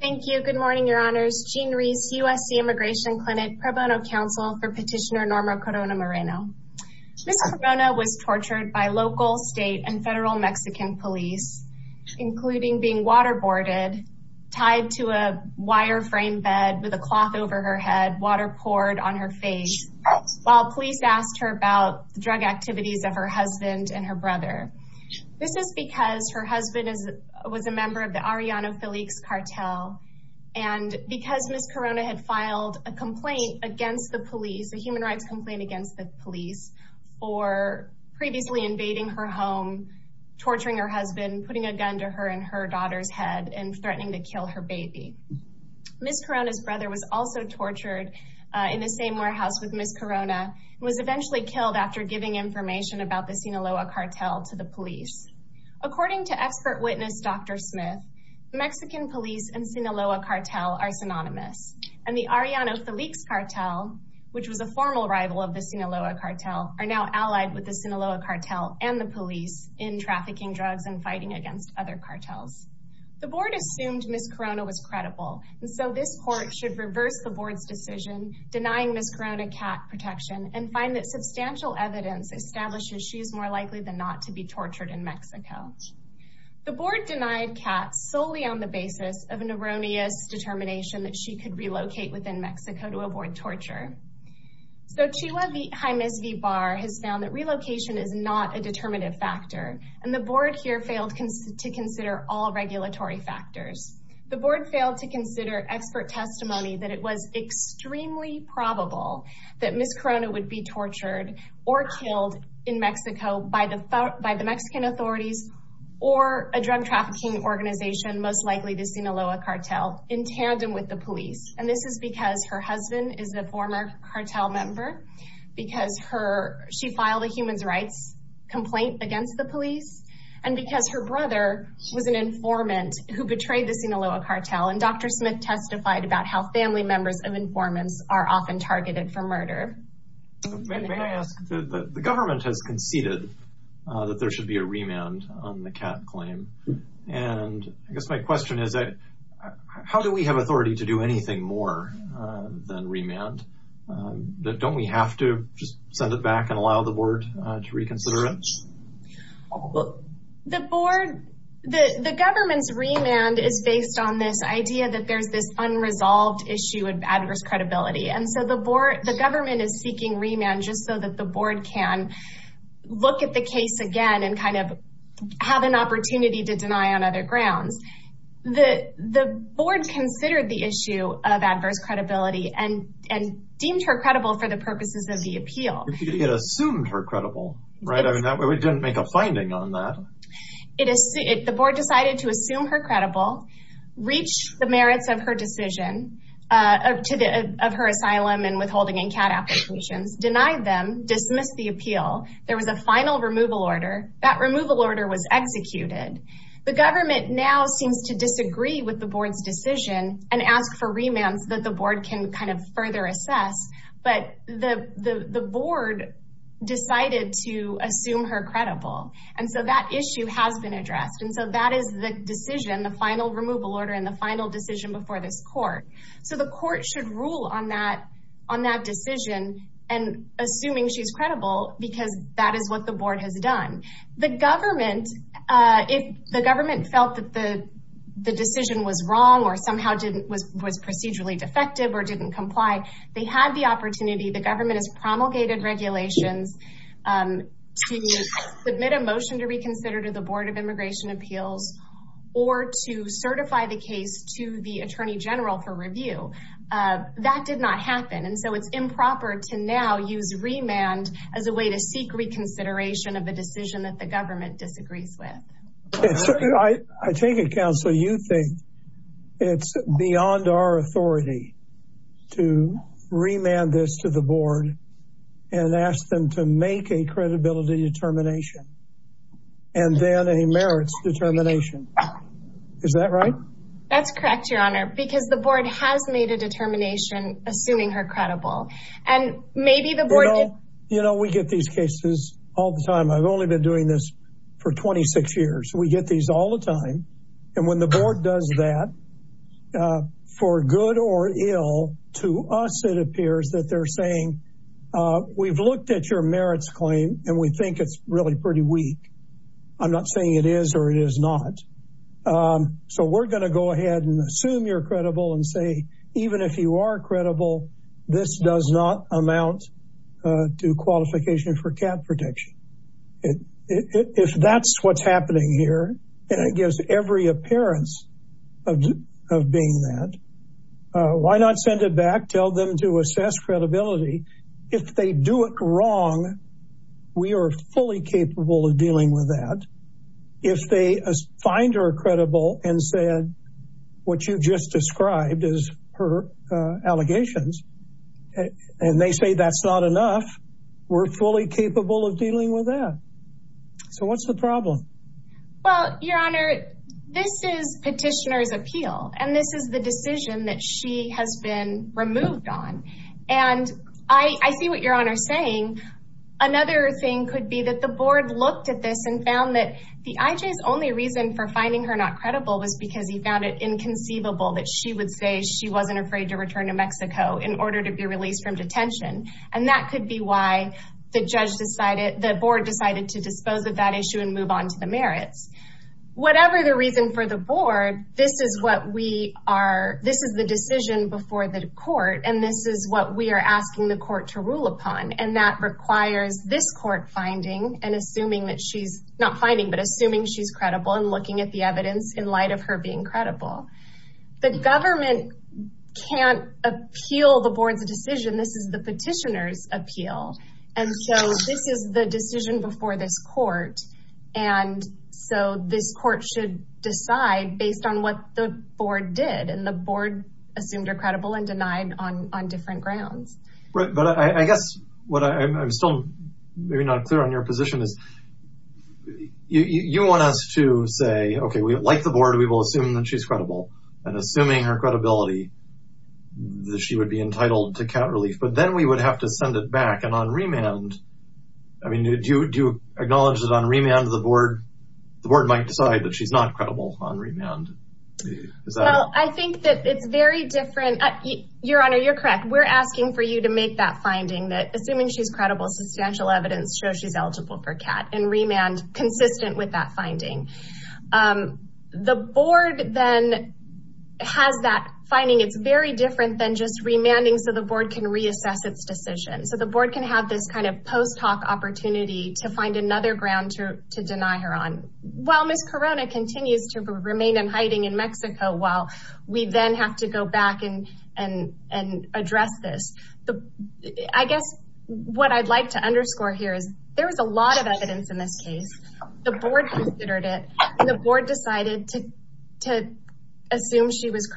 Thank you. Good morning, your honors. Jean Rees, USC Immigration Clinic Pro Bono Counsel for Petitioner Norma Corona Moreno. Ms. Corona was tortured by local, state, and federal Mexican police, including being waterboarded, tied to a wireframe bed with a cloth over her head, water poured on her face, while police asked her about the drug activities of her husband and her brother. This is because her husband was a member of the Arellano Felix Cartel. And because Ms. Corona had filed a complaint against the police, a human rights complaint against the police, for previously invading her home, torturing her husband, putting a gun to her and her daughter's head, and threatening to kill her baby. Ms. Corona's brother was also tortured in the same warehouse with Ms. Corona, and was eventually killed after giving information about the police. According to expert witness, Dr. Smith, Mexican police and Sinaloa Cartel are synonymous. And the Arellano Felix Cartel, which was a formal rival of the Sinaloa Cartel, are now allied with the Sinaloa Cartel and the police in trafficking drugs and fighting against other cartels. The board assumed Ms. Corona was credible, and so this court should reverse the board's decision, denying Ms. Corona cat protection, and find that substantial evidence establishes she is more likely than not to be tortured in Mexico. The board denied cat solely on the basis of an erroneous determination that she could relocate within Mexico to avoid torture. So Chihua Jimenez V. Barr has found that relocation is not a determinative factor, and the board here failed to consider all regulatory factors. The board failed to consider expert testimony that it was extremely probable that Ms. Corona would be tortured or killed in Mexico by the Mexican authorities or a drug trafficking organization, most likely the Sinaloa Cartel, in tandem with the police. And this is because her husband is a former cartel member, because she filed a human rights complaint against the police, and because her brother was an informant who betrayed the Sinaloa Cartel, and Dr. Corona was often targeted for murder. May I ask, the government has conceded that there should be a remand on the cat claim, and I guess my question is, how do we have authority to do anything more than remand? Don't we have to just send it back and allow the board to reconsider it? The board, the government's remand is based on this idea that there's this unresolved issue of adverse credibility, and so the board, the government is seeking remand just so that the board can look at the case again and kind of have an opportunity to deny on other grounds. The board considered the issue of adverse credibility and deemed her credible for the purposes of the appeal. It assumed her credible, right? I mean, we didn't make a finding on that. The board decided to assume her credible, reach the merits of her decision, of her asylum and withholding and cat applications, deny them, dismiss the appeal. There was a final removal order. That removal order was executed. The government now seems to disagree with the board's decision and ask for remands that the board can kind of further assess, but the board decided to assume her credible. And so that issue has been addressed. And so that is the decision, the final removal order and the final decision before this court. So the court should rule on that decision and assuming she's credible because that is what the board has done. The government, if the government felt that the decision was wrong or somehow was procedurally defective or didn't comply, they had the opportunity. The government has promulgated regulations to submit a motion to reconsider to the board of immigration appeals or to certify the case to the attorney general for review. That did not happen. And so it's improper to now use remand as a way to seek reconsideration of the decision that the government disagrees with. I take it counsel, you think it's beyond our authority to remand this to the board and ask them to make a credibility determination and then a merits determination. Is that right? That's correct, your honor, because the board has made a determination assuming her credible. And maybe the board- You know, we get these cases all the time. I've only been doing this for 26 years. We get these all the time. And when the board does that for good or ill, to us, it appears that they're saying, we've looked at your merits claim and we think it's really pretty weak, I'm not saying it is or it is not. So we're going to go ahead and assume you're credible and say, even if you are credible, this does not amount to qualification for cap protection. If that's what's happening here, and it gives every appearance of being that, why not send it back, tell them to assess credibility. If they do it wrong, we are fully capable of dealing with that. If they find her credible and said what you just described as her allegations, and they say that's not enough, we're fully capable of dealing with that. So what's the problem? Well, Your Honor, this is petitioner's appeal, and this is the decision that she has been removed on. And I see what Your Honor is saying. Another thing could be that the board looked at this and found that the IJ's only reason for finding her not credible was because he found it inconceivable that she would say she wasn't afraid to return to Mexico in order to be released from detention. And that could be why the board decided to dispose of that issue and move on to the merits. Whatever the reason for the board, this is the decision before the court, and this is what we are asking the court to rule upon. And that requires this court finding and assuming that she's not finding, but assuming she's credible and looking at the evidence in light of her being credible. The government can't appeal the board's decision. This is the petitioner's appeal. And so this is the decision before this court. And so this court should decide based on what the board did. And the board assumed her credible and denied on different grounds. Right. But I guess what I'm still maybe not clear on your position is you want us to say, okay, like the board, we will assume that she's credible and assuming her credibility, that she would be entitled to count relief. But then we would have to send it back. And on remand, I mean, do you, do you acknowledge that on remand, the board, the board might decide that she's not credible on remand? Is that? Well, I think that it's very different. Your Honor, you're correct. We're asking for you to make that finding that assuming she's credible, substantial evidence shows she's eligible for cat and remand consistent with that finding. Um, the board then has that finding. It's very different than just remanding. So the board can reassess its decision. So the board can have this kind of post hoc opportunity to find another ground to deny her on. While Ms. Corona continues to remain in hiding in Mexico, while we then have to go back and, and, and address this. The, I guess what I'd like to underscore here is there was a lot of evidence in this case. The board considered it and the board decided to, to assume she was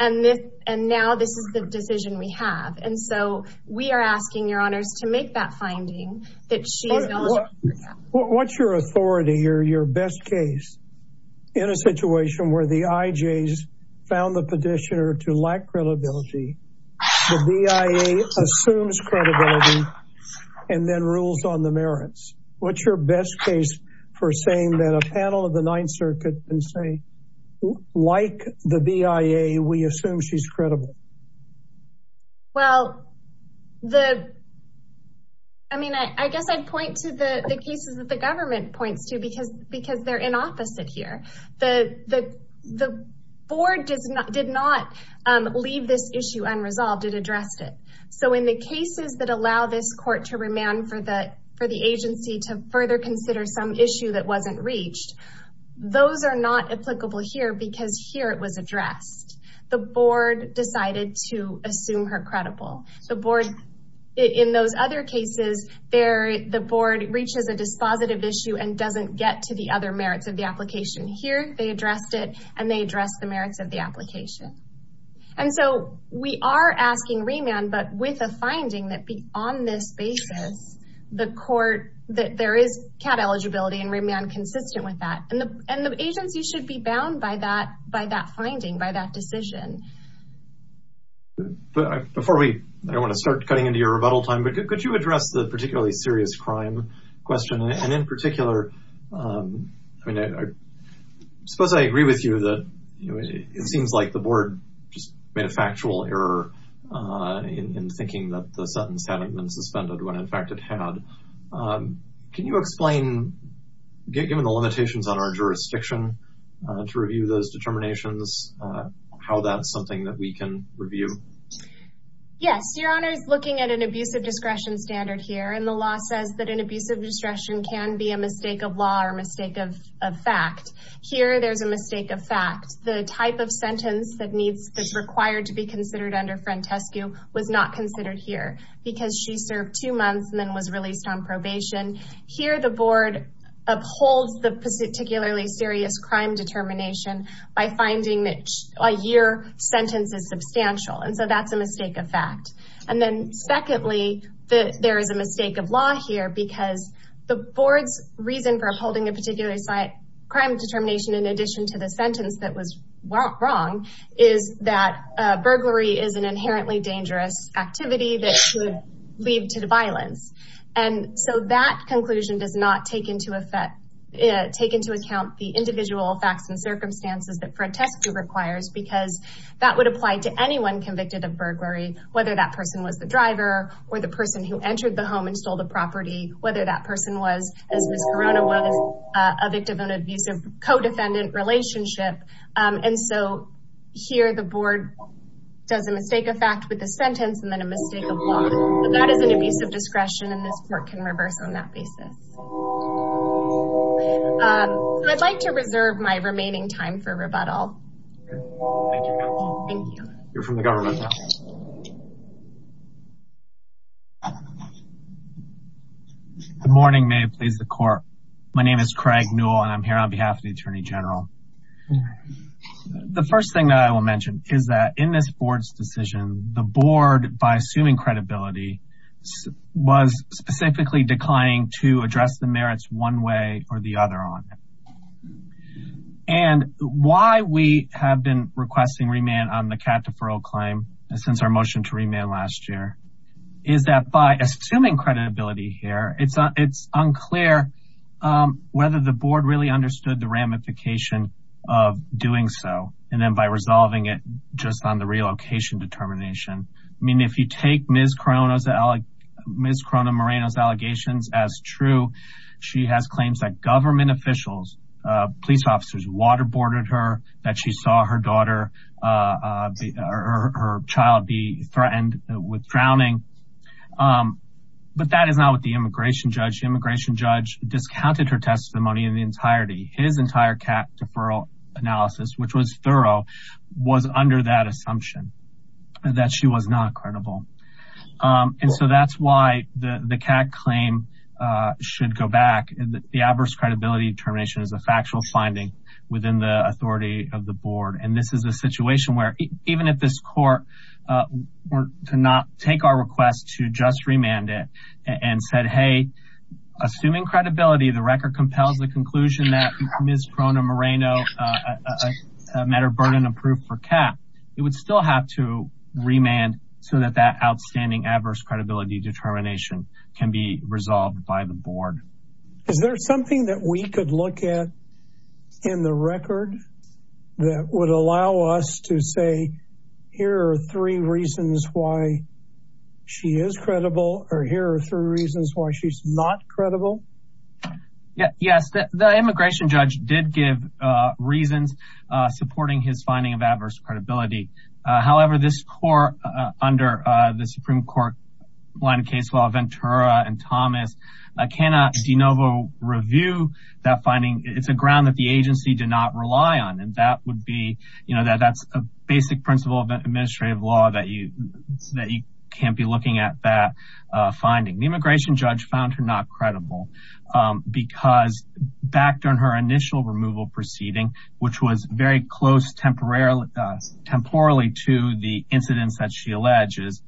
and this, and now this is the decision we have. And so we are asking your honors to make that finding that she. What's your authority or your best case in a situation where the IJs found the petitioner to lack credibility, the BIA assumes credibility and then rules on the merits. What's your best case for saying that a panel of the ninth circuit and like the BIA, we assume she's credible. Well, the, I mean, I, I guess I'd point to the cases that the government points to because, because they're in opposite here, the, the, the board does not, did not, um, leave this issue unresolved and addressed it. So in the cases that allow this court to remand for the, for the agency to further consider some issue that wasn't reached, those are not applicable here because here it was addressed, the board decided to assume her credible, the board. In those other cases there, the board reaches a dispositive issue and doesn't get to the other merits of the application here, they addressed it and they address the merits of the application. And so we are asking remand, but with a finding that be on this basis, the court, that there is CAD eligibility and remand consistent with that. And the, and the agency should be bound by that, by that finding, by that decision. But before we, I don't want to start cutting into your rebuttal time, but could you address the particularly serious crime question? And in particular, um, I mean, I suppose I agree with you that, you know, it seems like the board just made a factual error, uh, in thinking that the sentence hadn't been suspended when in fact it had, um, can you explain, given the limitations on our jurisdiction, uh, to review those determinations, uh, how that's something that we can review? Yes. Your Honor is looking at an abusive discretion standard here. And the law says that an abusive discretion can be a mistake of law or mistake of fact. Here, there's a mistake of fact. The type of sentence that needs, that's required to be considered under a particular crime determination is a mistake of fact, because she served two months and then was released on probation. Here, the board upholds the particularly serious crime determination by finding that a year sentence is substantial. And so that's a mistake of fact. And then secondly, there is a mistake of law here because the board's reason for upholding a particular crime determination, in addition to the lead to the violence. And so that conclusion does not take into effect, uh, take into account the individual facts and circumstances that Fred Teskew requires, because that would apply to anyone convicted of burglary, whether that person was the driver or the person who entered the home and stole the property, whether that person was, as Miss Corona was, a victim of an abusive co-defendant relationship. Um, and so here the board does a mistake of fact with the sentence and then a mistake of law. But that is an abuse of discretion and this court can reverse on that basis. Um, so I'd like to reserve my remaining time for rebuttal. Thank you. You're from the government now. Good morning, may it please the court. My name is Craig Newell and I'm here on behalf of the Attorney General. The first thing that I will mention is that in this board's decision, the board, by assuming credibility, was specifically declining to address the merits one way or the other on it. And why we have been requesting remand on the cat deferral claim since our motion to remand last year, is that by assuming credibility here, it's unclear, um, whether the board really understood the ramification of doing so. And then by resolving it just on the relocation determination. I mean, if you take Miss Corona Moreno's allegations as true, she has claims that government officials, uh, police officers waterboarded her, that she saw her daughter, uh, or her child be threatened with drowning. Um, but that is not what the immigration judge, the immigration judge discounted her testimony in the entirety. His entire cat deferral analysis, which was thorough, was under that assumption that she was not credible. Um, and so that's why the, the cat claim, uh, should go back. The adverse credibility determination is a factual finding within the authority of the board. And this is a situation where even if this court, uh, were to not take our request to just remand it and said, Hey, assuming credibility, the record compels the conclusion that Miss Corona Moreno, uh, a matter of burden of proof for cat, it would still have to remand so that that outstanding adverse credibility determination can be resolved by the board. Is there something that we could look at in the record that would allow us to say here are three reasons why she is credible or here are three reasons why she's not credible? Yeah, yes, the immigration judge did give, uh, reasons, uh, supporting his finding of adverse credibility. Uh, however, this court, uh, under, uh, the Supreme Court line of case law, Ventura and Thomas, I cannot de novo review that finding. It's a ground that the agency did not rely on. And that would be, you know, that that's a basic principle of administrative law that you, that you can't be looking at that, uh, finding. The immigration judge found her not credible. Um, because back during her initial removal proceeding, which was very close temporarily, uh, temporally to the incidents that she alleges,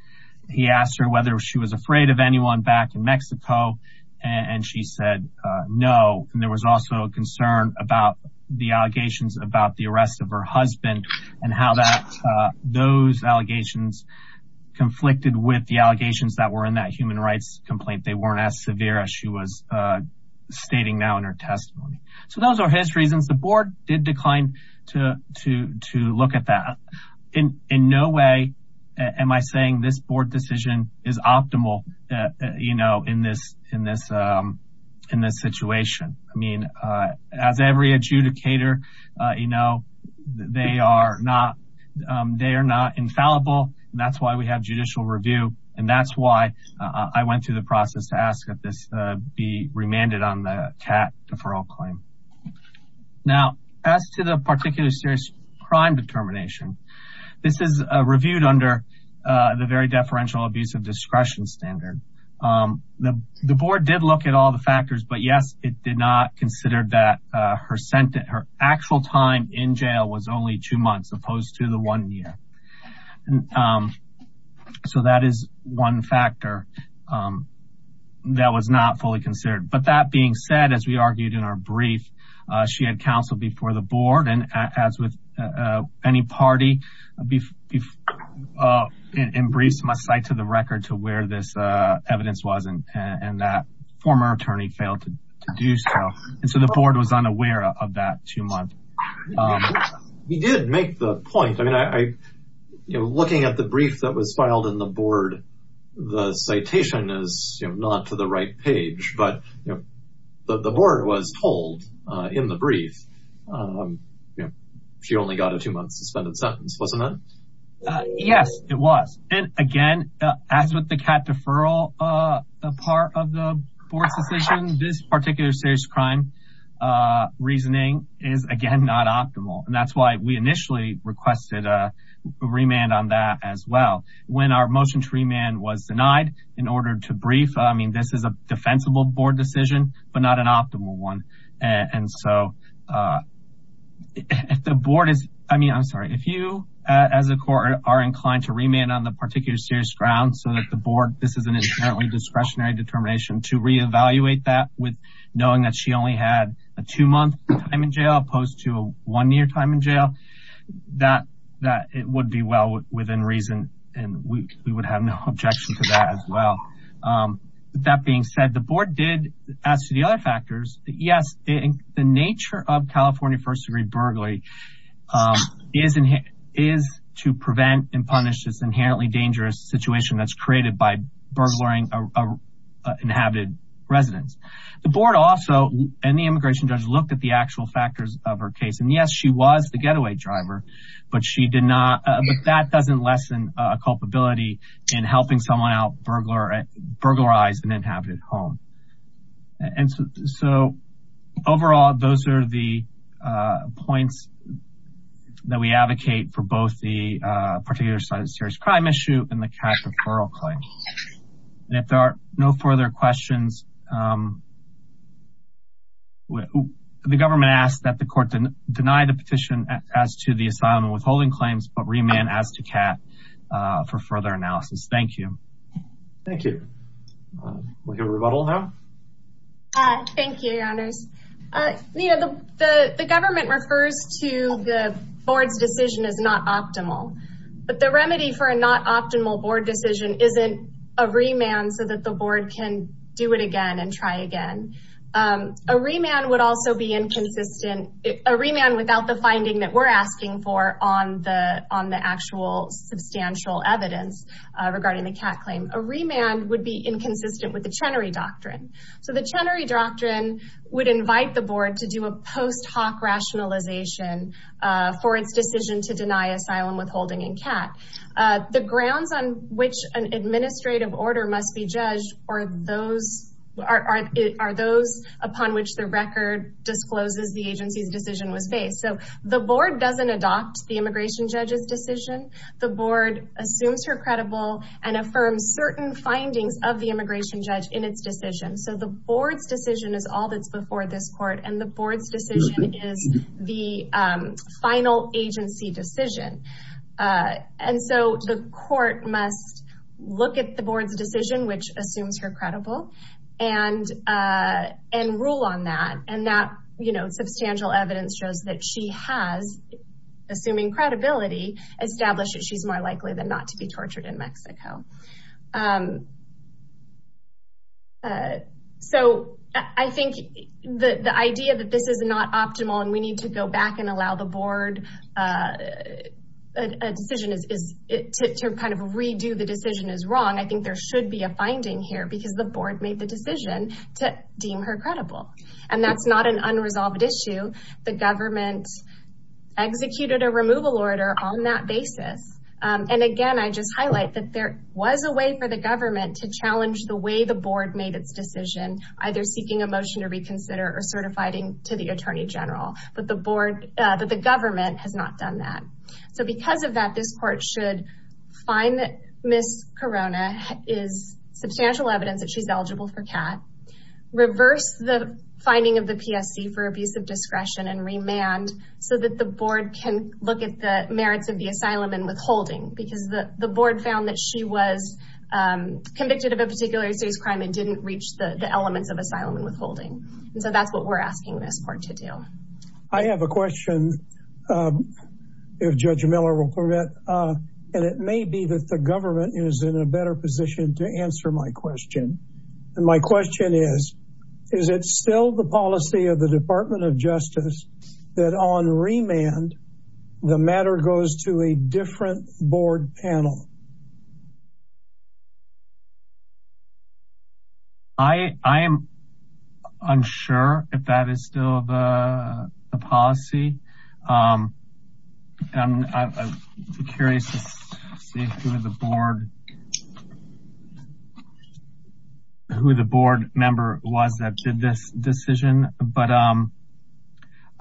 he asked her whether she was afraid of anyone back in Mexico and she said, uh, no. And there was also a concern about the allegations about the arrest of her husband and how that, uh, those allegations conflicted with the allegations that were in that human rights complaint. They weren't as severe as she was, uh, stating now in her testimony. So those are his reasons. The board did decline to, to, to look at that in, in no way am I saying this board decision is optimal, uh, you know, in this, in this, um, in this situation. I mean, uh, as every adjudicator, uh, you know, they are not, um, they are not infallible and that's why we have judicial review and that's why I went through the process to ask that this, uh, be remanded on the TAT deferral claim. Now as to the particular serious crime determination, this is, uh, reviewed under, uh, the very deferential abuse of discretion standard. Um, the, the board did look at all the factors, but yes, it did not consider that, uh, her sentence, her actual time in jail was only two months opposed to the one year. And, um, so that is one factor, um, that was not fully considered, but that being said, as we argued in our brief, uh, she had counsel before the board and as with, uh, uh, any party, uh, in briefs must cite to the record to where this, uh, evidence was and, and that former attorney failed to do so. And so the board was unaware of that two months. He did make the point. I mean, I, you know, looking at the brief that was filed in the board, the citation is not to the right page, but you know, the board was told, uh, in the brief, um, you know, she only got a two month suspended sentence, wasn't it? Yes, it was. And again, as with the TAT deferral, uh, part of the board's decision, this particular serious crime, uh, reasoning is again, not optimal. And that's why we initially requested a remand on that as well. When our motion to remand was denied in order to brief, I mean, this is a defensible board decision, but not an optimal one. And so, uh, if the board is, I mean, I'm sorry, if you, uh, as a court are inclined to remand on the particular serious grounds so that the board, this is an inherently discretionary determination to reevaluate that with knowing that she only had a two month time in jail, opposed to a one year time in jail, that, that it would be well within reason, and we would have no objection to that as well. Um, that being said, the board did ask the other factors, yes, the nature of California first degree burglary, um, is to prevent and punish this inherently dangerous situation that's created by burglaring inhabited residents. The board also, and the immigration judge looked at the actual factors of her case. And yes, she was the getaway driver, but she did not, uh, but that doesn't lessen a culpability in helping someone out burglarize an inhabited home. And so, so overall, those are the, uh, points that we advocate for both the, uh, particular side of the serious crime issue and the cash referral claim. And if there are no further questions, um, the government asked that the court deny the petition as to the asylum and withholding claims, but remand as to CAT, uh, for further analysis. Thank you. Thank you. Um, we'll hear a rebuttal now. Uh, thank you, your honors. Uh, you know, the, the, the government refers to the board's decision as not a remand so that the board can do it again and try again. Um, a remand would also be inconsistent, a remand without the finding that we're asking for on the, on the actual substantial evidence, uh, regarding the CAT claim, a remand would be inconsistent with the Chenery Doctrine. So the Chenery Doctrine would invite the board to do a post hoc rationalization, uh, for its decision to deny asylum withholding in CAT. Uh, the grounds on which an administrative order must be judged or those are, are, are those upon which the record discloses the agency's decision was based. So the board doesn't adopt the immigration judge's decision. The board assumes her credible and affirms certain findings of the immigration judge in its decision. So the board's decision is all that's before this court and the board's decision is the, um, final agency decision. Uh, and so the court must look at the board's decision, which assumes her credible and, uh, and rule on that. And that, you know, substantial evidence shows that she has, assuming credibility, established that she's more likely than not to be tortured in Mexico. Um, uh, so I think the, the idea that this is not optimal and we need to go back to how the board, uh, a decision is, is to kind of redo the decision is wrong. I think there should be a finding here because the board made the decision to deem her credible. And that's not an unresolved issue. The government executed a removal order on that basis. Um, and again, I just highlight that there was a way for the government to challenge the way the board made its decision, either seeking a motion to reconsider or certifying to the attorney general, but the board, uh, the government has not done that. So because of that, this court should find that Miss Corona is substantial evidence that she's eligible for CAT, reverse the finding of the PSC for abusive discretion and remand so that the board can look at the merits of the asylum and withholding because the board found that she was, um, convicted of a particular serious crime and didn't reach the elements of asylum and withholding. And so that's what we're asking this court to do. I have a question, uh, if judge Miller will permit, uh, and it may be that the government is in a better position to answer my question. And my question is, is it still the policy of the department of justice that on remand, the matter goes to a different board panel? I, I am unsure if that is still the policy, um, and I'm curious to see who the board, who the board member was that did this decision, but, um,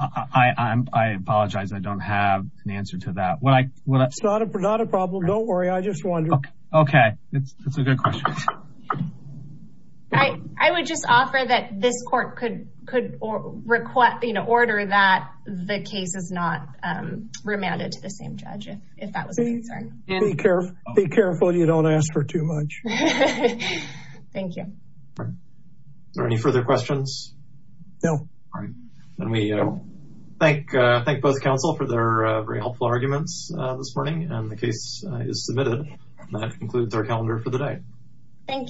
I, I'm, I apologize. I don't have an answer to that. What I, what I- It's not a problem. Don't worry. I just wonder. Okay. It's a good question. I, I would just offer that this court could, could request, you know, order that the case is not, um, remanded to the same judge, if, if that was a concern. And be careful, be careful. You don't ask for too much. Thank you. Are there any further questions? No. All right. Then we, uh, thank, uh, thank both counsel for their, uh, very helpful arguments, uh, this morning and the case is submitted. That concludes our calendar for the day. Thank you.